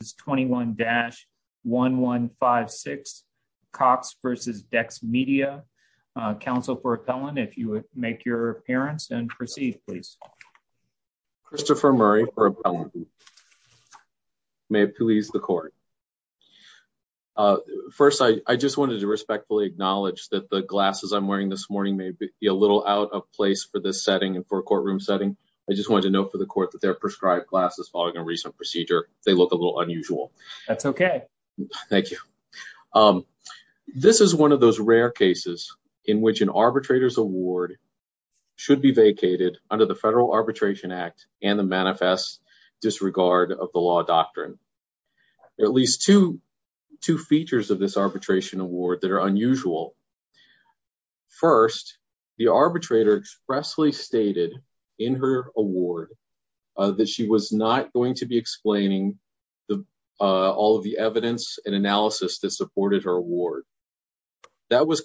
is 21-1156, Cox v. Dex Media. Council for Appellant, if you would make your appearance and proceed, please. Christopher Murray for Appellant. May it please the Court. First, I just wanted to respectfully acknowledge that the glasses I'm wearing this morning may be a little out of place for this setting and for a courtroom setting. I just wanted to note for the Court that they're That's okay. Thank you. This is one of those rare cases in which an arbitrator's award should be vacated under the Federal Arbitration Act and the Manifest Disregard of the Law Doctrine. There are at least two features of this arbitration award that are unusual. First, the arbitrator expressly stated in her award that she was not going to be explaining the all of the evidence and analysis that supported her award. That was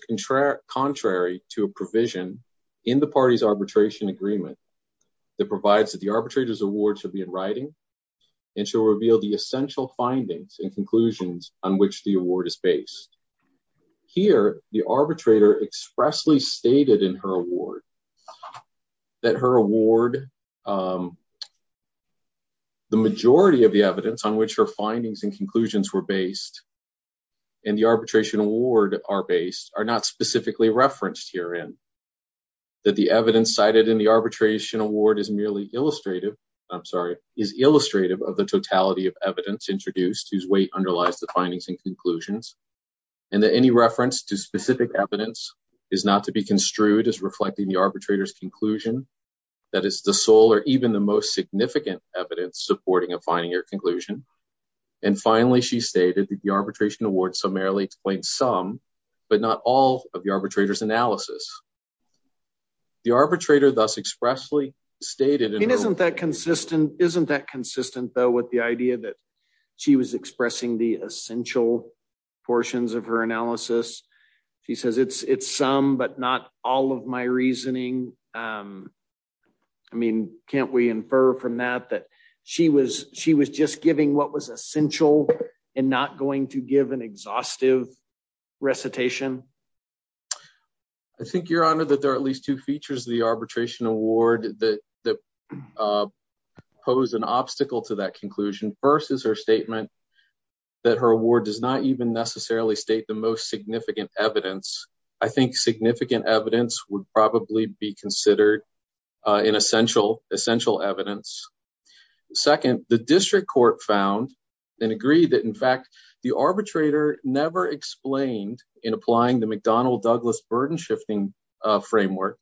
contrary to a provision in the party's arbitration agreement that provides that the arbitrator's award should be in writing and should reveal the essential findings and conclusions on which the award is based. Here, the arbitrator expressly stated in her award that her award, um, the majority of the evidence on which her findings and conclusions were based and the arbitration award are based are not specifically referenced herein. That the evidence cited in the arbitration award is merely illustrative, I'm sorry, is illustrative of the totality of evidence introduced whose weight underlies the findings and conclusions, and that any reference to specific evidence is not to be construed as sole or even the most significant evidence supporting a finding or conclusion. And finally, she stated that the arbitration award summarily explained some, but not all, of the arbitrator's analysis. The arbitrator thus expressly stated... It isn't that consistent, isn't that consistent though with the idea that she was expressing the essential portions of her analysis. She says it's, it's some, but not all of my reasoning. Um, I mean, can't we infer from that, that she was, she was just giving what was essential and not going to give an exhaustive recitation. I think Your Honor, that there are at least two features of the arbitration award that, that, uh, pose an obstacle to that conclusion. First is her statement that her award does not even necessarily state the most significant evidence. I think significant evidence would probably be considered, uh, an essential, essential evidence. Second, the district court found and agreed that in fact the arbitrator never explained in applying the McDonnell-Douglas burden shifting, uh, framework.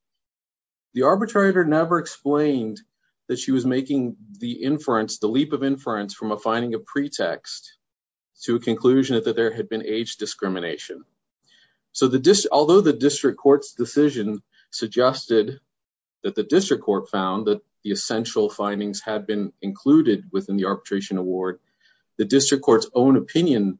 The arbitrator never explained that she was making the inference, the leap of inference from a finding of pretext to a conclusion that there had been age discrimination. So the district, although the district court's decision suggested that the district court found that the essential findings had been included within the arbitration award, the district court's own opinion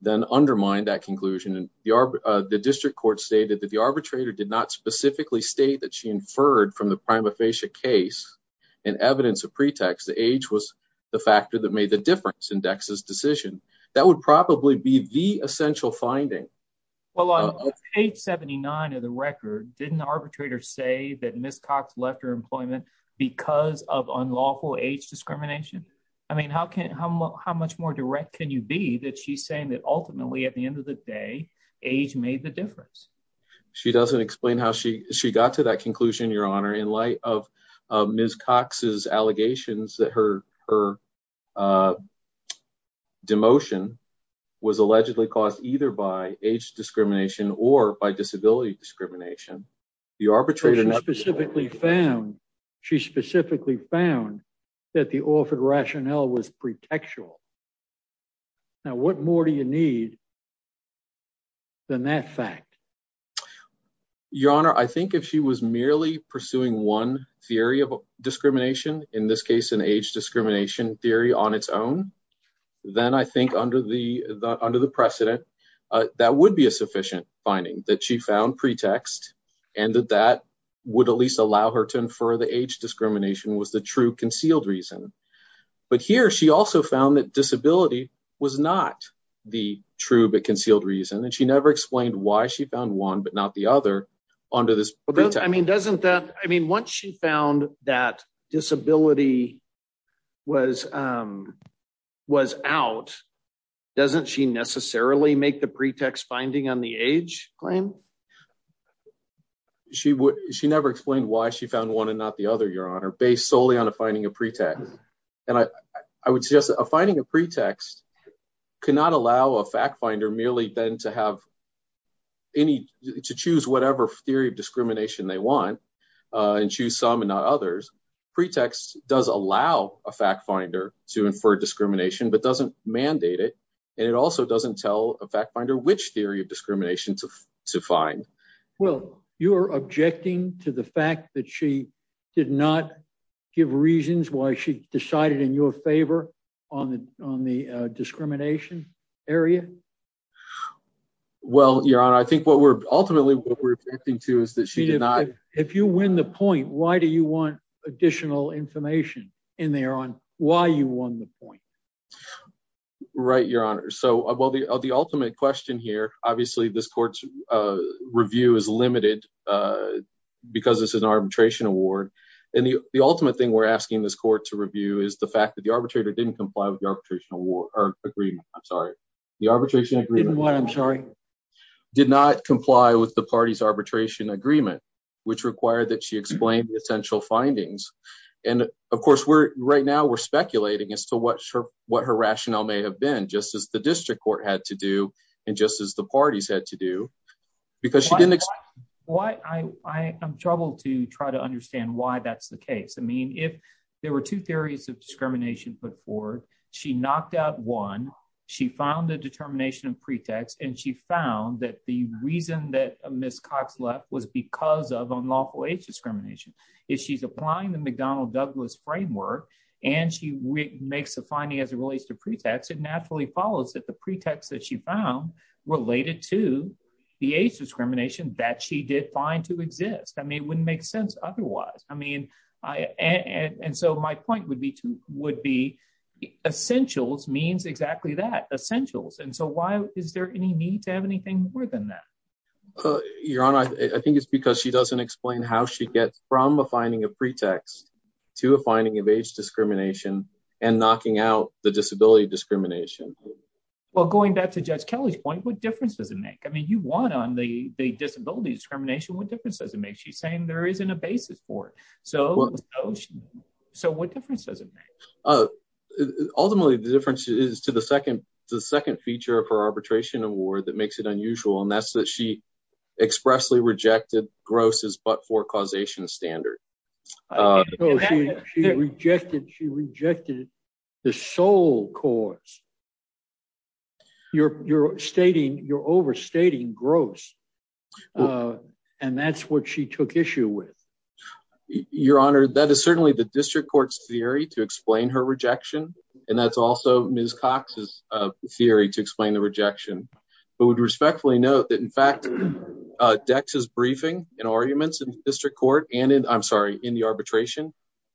then undermined that conclusion. And the arb, uh, the district court stated that the arbitrator did not specifically state that she inferred from the prima facie case and evidence of pretext, that age was the factor that made the difference in Dex's decision. That would probably be the essential finding. Well, on page 79 of the record, didn't the arbitrator say that Ms. Cox left her employment because of unlawful age discrimination? I mean, how can, how, how much more direct can you be that she's saying that ultimately at the end of the day, age made the difference? She doesn't explain how she, she got to conclusion. Your honor, in light of Ms. Cox's allegations that her, her, uh, demotion was allegedly caused either by age discrimination or by disability discrimination, the arbitrator specifically found, she specifically found that the offered rationale was merely pursuing one theory of discrimination. In this case, an age discrimination theory on its own. Then I think under the, the, under the precedent, uh, that would be a sufficient finding that she found pretext and that that would at least allow her to infer the age discrimination was the true concealed reason. But here she also found that disability was not the true but concealed reason. And she never explained why she found one, but not the other onto this. I mean, doesn't that, I mean, once she found that disability was, um, was out, doesn't she necessarily make the pretext finding on the age claim? She would, she never explained why she found one and not the other, your honor, based solely on a finding of pretext. And I, I would suggest that a finding of pretext cannot allow a fact finder merely then to have any, to choose whatever theory of discrimination they want, uh, and choose some and not others pretext does allow a fact finder to infer discrimination, but doesn't mandate it. And it also doesn't tell a fact finder, which theory of discrimination to, to find. Well, you're objecting to the fact that she did not give reasons why she decided in your favor on the, on the, uh, discrimination area. Well, your honor, I think what we're ultimately what we're acting to is that she did not, if you win the point, why do you want additional information in there on why you won the point? Right. Your honor. So, uh, well the, uh, the ultimate question here, obviously this court's, uh, review is limited, uh, because this is an arbitration award. And the, the ultimate thing we're asking this court to review is the fact that the arbitrator didn't comply with the arbitration award or agreement. I'm sorry. The arbitration agreement did not comply with the party's arbitration agreement, which required that she explained the essential findings. And of course we're right now we're speculating as to what her, what her rationale may have been just as the district court had to do. And just as the parties had to do because she didn't. Why I, I am troubled to try to understand why that's the case. I mean, if there were two theories of discrimination put forward, she knocked out one, she found the determination of pretext and she found that the reason that Ms. Cox left was because of unlawful age discrimination. If she's applying the McDonnell Douglas framework and she makes a finding as it relates to pretext, it naturally follows that the pretext that she found related to the age discrimination that she did find to exist. I mean, it wouldn't make sense otherwise. I mean, I, and, and so my point would be to would be essentials means exactly that essentials. And so why is there any need to have anything more than that? Uh, Your Honor, I think it's because she doesn't explain how she gets from a finding of pretext to a finding of age discrimination and knocking out the disability discrimination. Well, going back to judge Kelly's point, what difference does it make? I mean, you want on the, the disability discrimination, what difference does it make? She's saying there isn't a basis for it. So, so what difference does it make? Uh, ultimately the difference is to the second, the second feature of her arbitration award that makes it unusual. And that's that she expressly rejected grosses, but for causation standard. Uh, she rejected, she rejected the sole cause you're, you're stating you're overstating gross. Uh, and that's what she took issue with your honor. That is certainly the district court's theory to explain her rejection. And that's also Ms. Cox's, uh, theory to explain the rejection, but would respectfully note that in fact, uh, decks is briefing and arguments in district court and in, I'm sorry, in the arbitration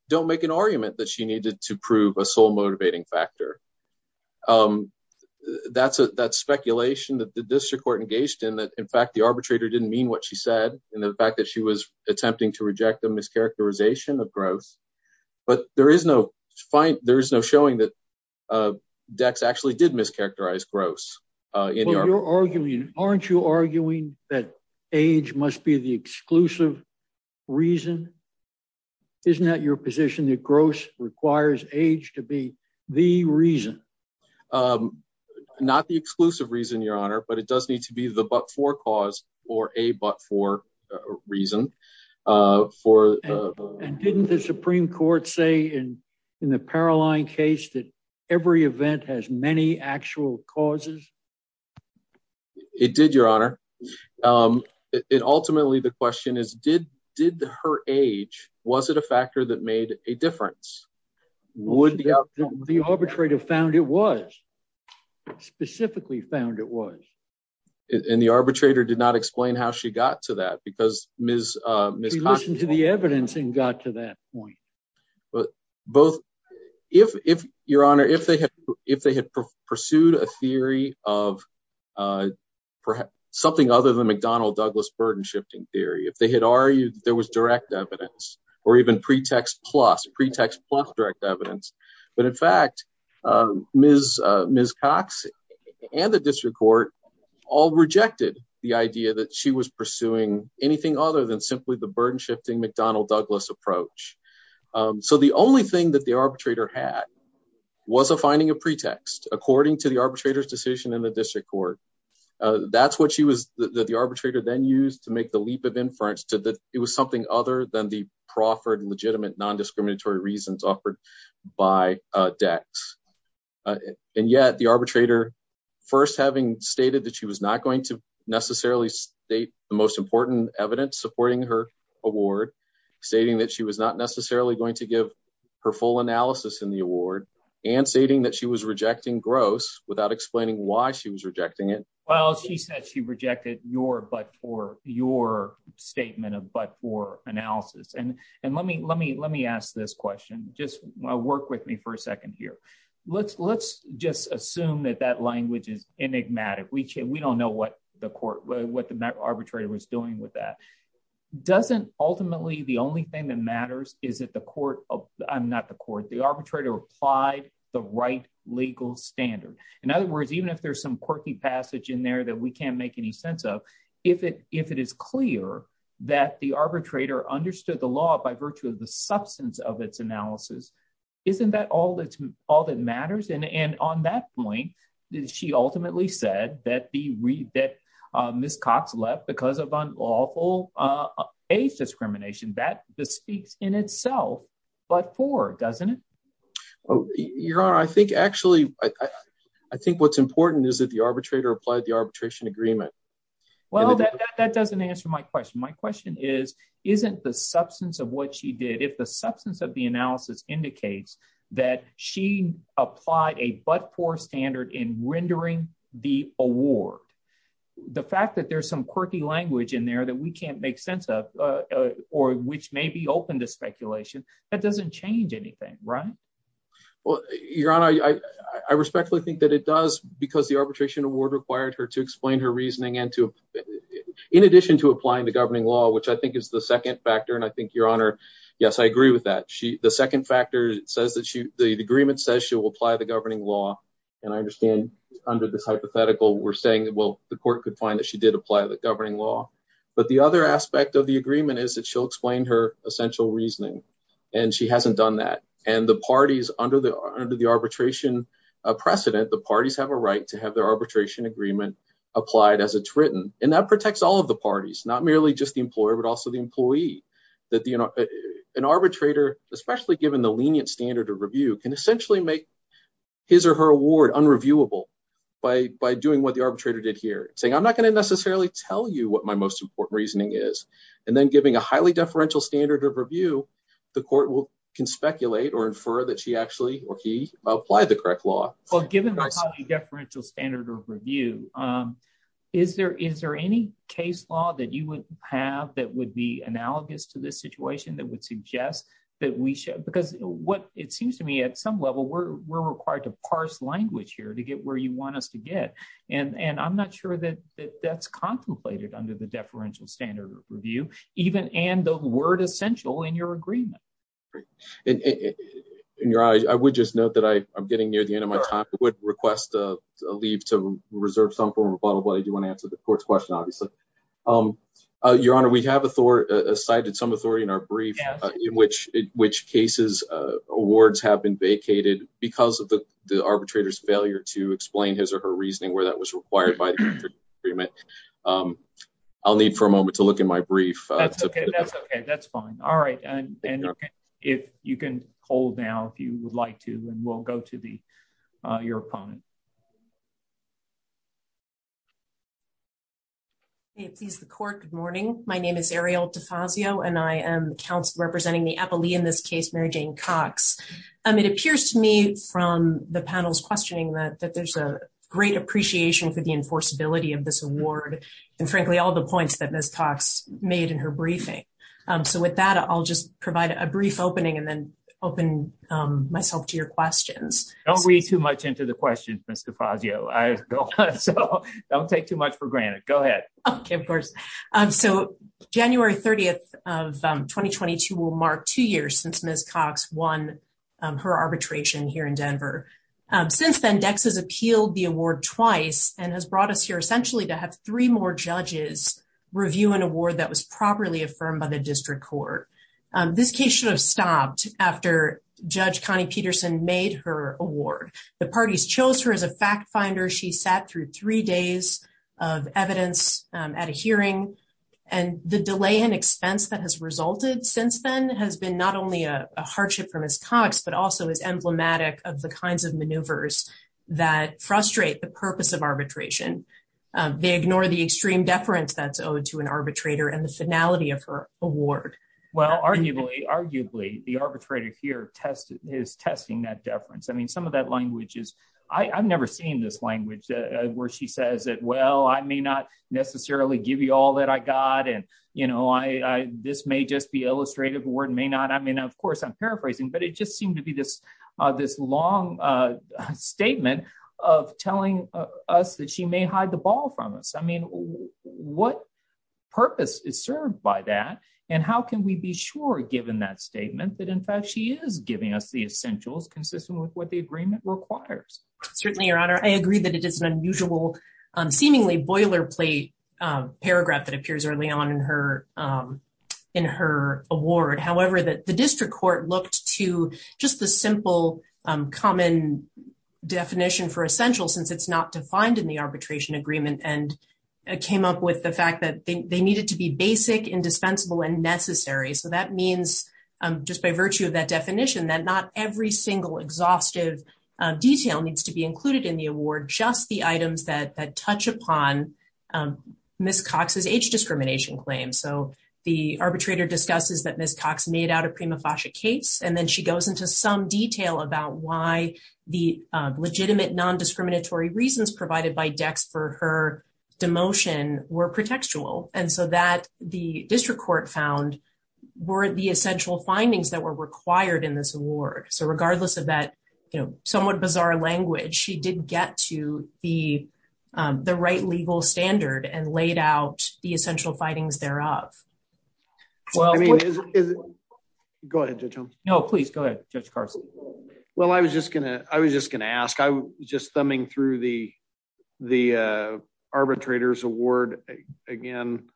don't make an argument that she needed to prove a sole motivating factor. Um, that's a, that's speculation that the district court engaged in that. In fact, the arbitrator didn't mean what she said. And the fact that she was attempting to reject the mischaracterization of growth, but there is no fine. There is no showing that, uh, decks actually did mischaracterize gross, uh, in your argument. Aren't you arguing that age must be the position that gross requires age to be the reason, um, not the exclusive reason your honor, but it does need to be the, but for cause or a, but for a reason, uh, for, uh, and didn't the Supreme court say in, in the Caroline case that every event has many actual causes. Yeah, it did your honor. Um, it ultimately, the question is, did, did her age, was it a factor that made a difference? Would the arbitrator found it was specifically found it was in the arbitrator did not explain how she got to that because Ms. Uh, Ms. To the evidence and got to point. But both if, if your honor, if they had, if they had pursued a theory of, uh, something other than McDonnell Douglas burden shifting theory, if they had argued that there was direct evidence or even pretext plus pretext plus direct evidence. But in fact, um, Ms. Uh, Ms. Cox and the district court all rejected the idea that she was pursuing anything other than So the only thing that the arbitrator had was a finding of pretext according to the arbitrator's decision in the district court. Uh, that's what she was, that the arbitrator then used to make the leap of inference to the, it was something other than the proffered legitimate non-discriminatory reasons offered by, uh, decks. Uh, and yet the arbitrator first having stated that she was not going to necessarily state the most important evidence supporting her award stating that she was not necessarily going to give her full analysis in the award and stating that she was rejecting gross without explaining why she was rejecting it. Well, she said she rejected your, but for your statement of, but for analysis. And, and let me, let me, let me ask this question. Just work with me for a second here. Let's, let's just assume that that language is enigmatic. We, we don't know what the court, what the arbitrator was doing with that. Doesn't ultimately the only thing that matters is that the court, I'm not the court, the arbitrator applied the right legal standard. In other words, even if there's some quirky passage in there that we can't make any sense of, if it, if it is clear that the arbitrator understood the law by virtue of the substance of its analysis, isn't that all that's all that matters? And, and on that point, she speaks in itself, but for, doesn't it? Oh, I think actually, I think what's important is that the arbitrator applied the arbitration agreement. Well, that, that, that doesn't answer my question. My question is, isn't the substance of what she did. If the substance of the analysis indicates that she applied a, but for standard in rendering the award, the fact that there's some quirky language in there that we can't make sense of, or which may be open to speculation that doesn't change anything, right? Well, your honor, I, I respectfully think that it does because the arbitration award required her to explain her reasoning and to, in addition to applying the governing law, which I think is the second factor. And I think your honor, yes, I agree with that. She, the second factor says that she, the agreement says she will apply the governing law. And I understand under this hypothetical, we're saying that, well, the court could find that she did apply the governing law, but the other aspect of the agreement is that she'll explain her essential reasoning. And she hasn't done that. And the parties under the, under the arbitration precedent, the parties have a right to have their arbitration agreement applied as it's written. And that protects all of the parties, not merely just the employer, but also the employee that the, an arbitrator, especially given the lenient standard of review can essentially make his or her award unreviewable by, by doing what the arbitrator did here saying, I'm not going to necessarily tell you what my most important reasoning is. And then giving a highly deferential standard of review, the court will can speculate or infer that she actually, or he applied the correct law. Well, given the deferential standard of review is there, is there any case law that you would have that would be analogous to this situation that would suggest that we should, because what it seems to me at some level, we're, we're required to parse language here to get where you want us to get. And, and I'm not sure that that that's contemplated under the deferential standard of review, even, and the word essential in your agreement. In your eyes, I would just note that I I'm getting near the end of my time. I would request a leave to reserve some form of bottle, but I do want to answer the court's question, obviously. Your honor, we have a Thor, a cited some authority in our brief, in which, which cases, awards have been vacated because of the arbitrator's failure to explain his or her reasoning where that was required by the agreement. I'll need for a moment to look in my brief. That's okay. That's fine. All right. And if you can hold now, if you would like to, and we'll go to the, your opponent. Hey, please the court. Good morning. My name is Ariel Defazio, and I am representing the Eppley in this case, Mary Jane Cox. It appears to me from the panel's questioning that, that there's a great appreciation for the enforceability of this award. And frankly, all the points that Ms. Cox made in her briefing. So with that, I'll just provide a brief opening and then open myself to your questions. Don't read too much into the question, Mr. Fazio. I don't take too much for granted. Go ahead. Okay, of course. So January 30th of 2022 will mark two years since Ms. Cox won her arbitration here in Denver. Since then, DEX has appealed the award twice and has brought us here essentially to have three more judges review an award that was properly affirmed by the district court. This case should have stopped after Judge Connie Peterson made her award. The parties chose her as a fact finder. She sat through three days of evidence at a hearing and the delay in expense that has resulted since then has been not only a hardship for Ms. Cox, but also is emblematic of the kinds of maneuvers that frustrate the purpose of arbitration. They ignore the extreme deference that's owed to an arbitrator and the finality of her award. Well, arguably, arguably the arbitrator here is testing that deference. I mean, some of that language is, I've never seen this language where she says that, well, I may not necessarily give you all that I got. And, you know, I, this may just be illustrative award may not. I mean, of course, I'm paraphrasing, but it just seemed to be this, this long statement of telling us that she may hide the ball from us. I mean, what purpose is served by that? And how can we be sure given that statement that in fact, she is giving us the essentials consistent with what the agreement requires? Certainly, Your Honor, I agree that it is an unusual, seemingly boilerplate paragraph that appears early on in her, in her award. However, that the district court looked to just the simple common definition for essential since it's not defined in the arbitration agreement and came up with the fact that they needed to be basic, indispensable and necessary. So that means just by virtue of that definition, that not every single exhaustive detail needs to be included in the award, just the items that touch upon Ms. Cox's age discrimination claim. So the arbitrator discusses that Ms. Cox made out of prima facie case, and then she goes into some detail about why the legitimate non-discriminatory reasons provided by decks for her demotion were and so that the district court found were the essential findings that were required in this award. So regardless of that, you know, somewhat bizarre language, she did get to the, the right legal standard and laid out the essential findings thereof. Well, I mean, go ahead, Judge Holmes. No, please go ahead, Judge Carson. Well, I was just gonna, I was just gonna ask, just thumbing through the, the arbitrator's award again,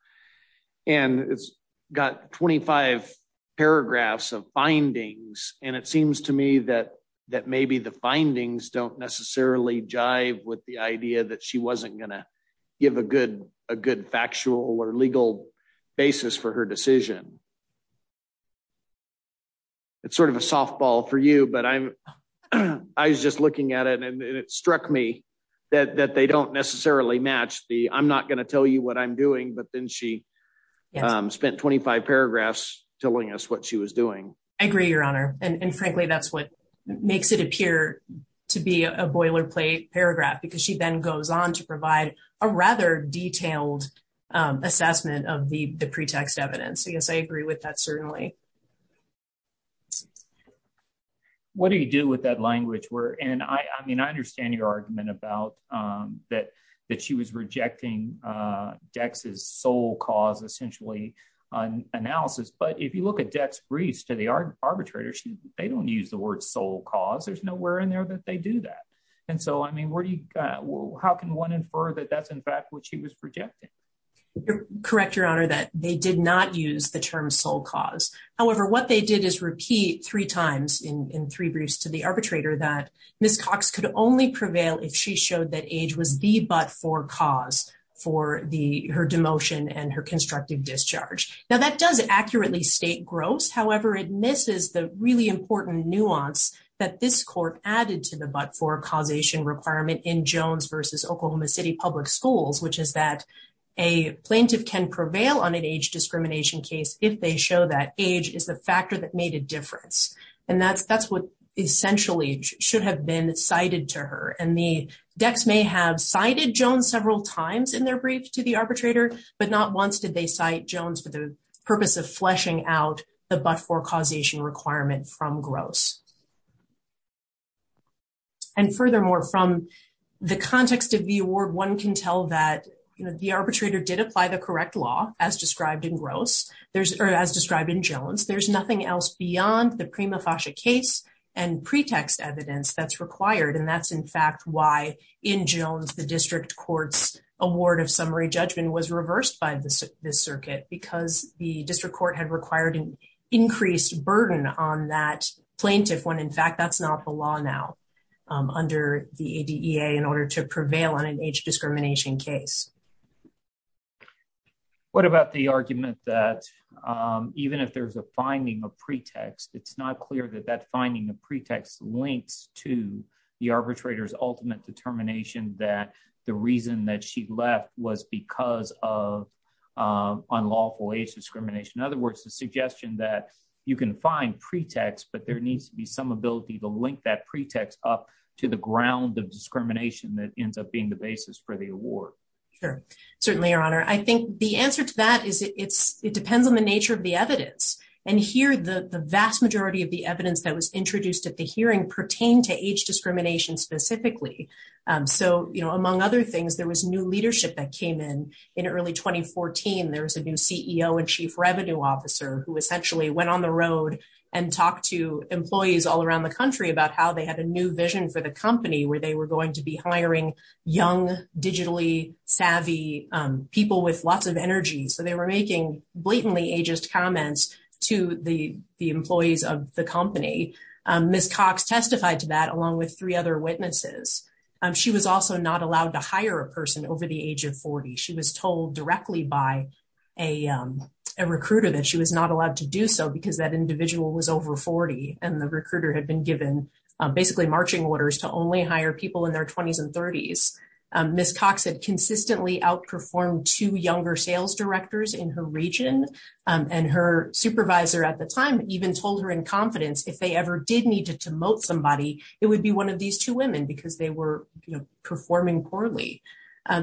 and it's got 25 paragraphs of findings, and it seems to me that, that maybe the findings don't necessarily jive with the idea that she wasn't going to give a good, a good factual or legal basis for her decision. It's sort of a it struck me that, that they don't necessarily match the, I'm not going to tell you what I'm doing, but then she spent 25 paragraphs telling us what she was doing. I agree, Your Honor. And frankly, that's what makes it appear to be a boilerplate paragraph, because she then goes on to provide a rather detailed assessment of the pretext evidence. Yes, I agree with that. Certainly. What do you do with that language? Where, and I, I mean, I understand your argument about that, that she was rejecting Dex's sole cause, essentially, on analysis. But if you look at Dex's briefs to the arbitrator, she, they don't use the word sole cause. There's nowhere in there that they do that. And so, I mean, where do you, how can one infer that that's, in fact, what she was projecting? Correct, Your Honor, that they did not use the term sole cause. However, what they did is repeat three times in three briefs to the arbitrator that Ms. Cox could only prevail if she showed that age was the but-for cause for the, her demotion and her constructive discharge. Now, that does accurately state gross. However, it misses the really important nuance that this court added to the but-for causation requirement in Jones versus Oklahoma City Public Schools, which is that a plaintiff can prevail on an age discrimination case if they show that age is the factor that made a difference. And that's, that's what essentially should have been cited to her. And the Dex may have cited Jones several times in their brief to the arbitrator, but not once did they cite Jones for the purpose of fleshing out the but-for causation requirement from gross. And furthermore, from the context of the award, one can tell that, you know, the arbitrator did apply the correct law as described in gross. There's, or as described in Jones, there's nothing else beyond the prima facie case and pretext evidence that's required. And that's, in fact, why in Jones, the district court's award of summary judgment was reversed by the circuit because the district court had required an increased burden on that plaintiff when, in fact, that's not the law now under the ADEA in age discrimination case. What about the argument that even if there's a finding of pretext, it's not clear that that finding of pretext links to the arbitrator's ultimate determination that the reason that she left was because of unlawful age discrimination. In other words, the suggestion that you can find pretext, but there needs to be some ability to link that pretext up to the ground of discrimination that ends up being the basis for the award. Sure. Certainly, Your Honor. I think the answer to that is it depends on the nature of the evidence. And here, the vast majority of the evidence that was introduced at the hearing pertained to age discrimination specifically. So, you know, among other things, there was new leadership that came in in early 2014. There was a new CEO and chief revenue officer who essentially went on the road and talked to employees all around the country about how they had a new vision for the company where they were going to be hiring young, digitally savvy people with lots of energy. So they were making blatantly ageist comments to the employees of the company. Ms. Cox testified to that along with three other witnesses. She was also not allowed to hire a person over the age of 40. She was told directly by a recruiter that she was not allowed to do so because that individual was over 40. And the recruiter had been given basically marching orders to only hire people in their 20s and 30s. Ms. Cox had consistently outperformed two younger sales directors in her region. And her supervisor at the time even told her in confidence if they ever did need to demote somebody, it would be one of these two women because they were performing poorly.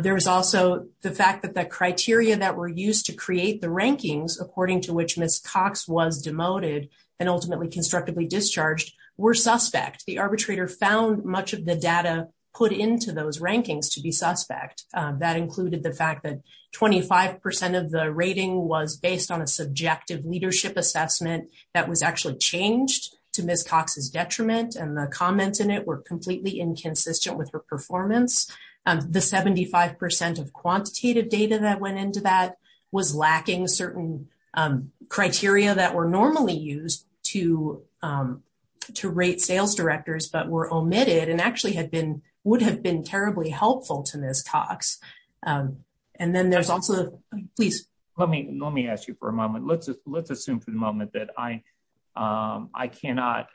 There was also the fact that the criteria that were used to create the rankings, according to which Ms. Cox was demoted and ultimately constructively discharged, were suspect. The arbitrator found much of the data put into those rankings to be suspect. That included the fact that 25% of the rating was based on a subjective leadership assessment that was actually changed to Ms. Cox's detriment. And the comments in it were completely inconsistent with her performance. The 75% of quantitative data that went into that was lacking certain criteria that were normally used to rate sales directors but were omitted and actually would have been terribly helpful to Ms. Cox. And then there's also, please. Let me ask you for a moment. Let's assume for the moment that I cannot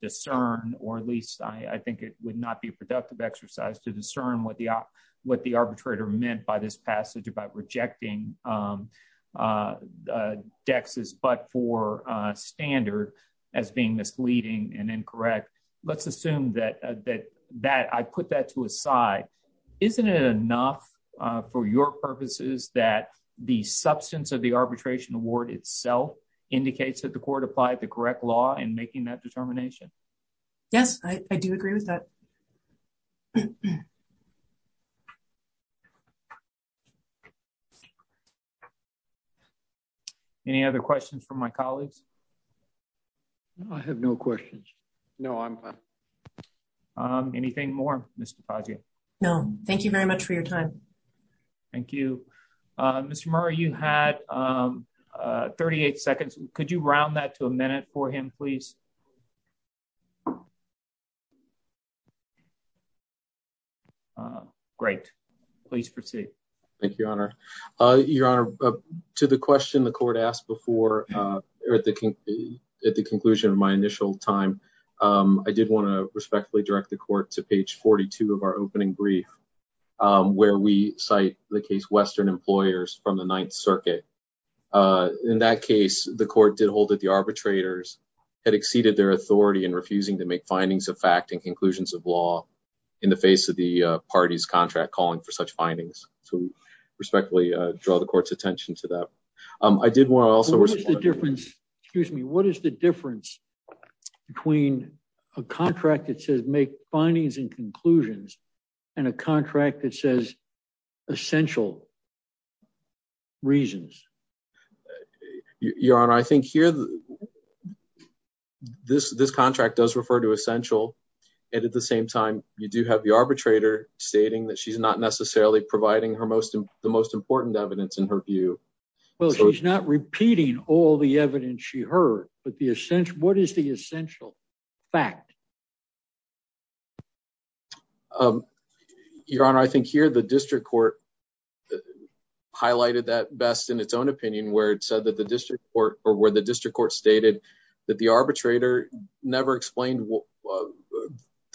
discern or at least I think it would not be a productive exercise to what the arbitrator meant by this passage about rejecting Dex's but for standard as being misleading and incorrect. Let's assume that I put that to a side. Isn't it enough for your purposes that the substance of the arbitration award itself indicates that the court applied the correct law in making that determination? Yes, I do agree with that. Thank you. Any other questions from my colleagues? I have no questions. No, I'm fine. Anything more, Mr. Padgett? No. Thank you very much for your time. Thank you. Mr. Murray, you had 38 seconds. Could you round that to a minute for him, please? Great. Please proceed. Thank you, Your Honor. Your Honor, to the question the court asked before at the conclusion of my initial time, I did want to respectfully direct the court to page 42 of our opening brief where we cite the case Western Employers from the Ninth Circuit. In that case, the court did hold that the arbitrators had exceeded their authority in refusing to make findings of fact and conclusions of law in the face of the party's contract calling for such findings. So we respectfully draw the court's attention to that. I did want to also... What is the difference, excuse me, what is the difference between a contract that says make findings and conclusions and a contract that says essential reasons? Your Honor, I think here this contract does refer to essential and at the same time, you do have the arbitrator stating that she's not necessarily providing the most important evidence in her view. Well, she's not repeating all the evidence she heard, but what is the essential fact? Your Honor, I think here the district court highlighted that best in its own opinion where it said that the district court or where the district court stated that the arbitrator never explained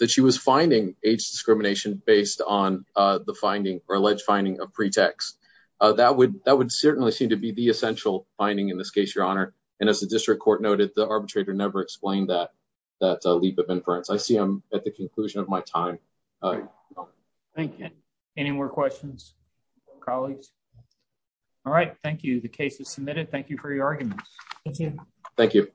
that she was finding age discrimination based on the finding or alleged finding of pretext. That would certainly seem to be the essential finding in this case, Your Honor. And as the district court noted, the arbitrator never explained that leap of inference. I see I'm at the conclusion of my time. Thank you. Any more questions, colleagues? All right. Thank you. The case is submitted. Thank you for your arguments. Thank you. Thank you.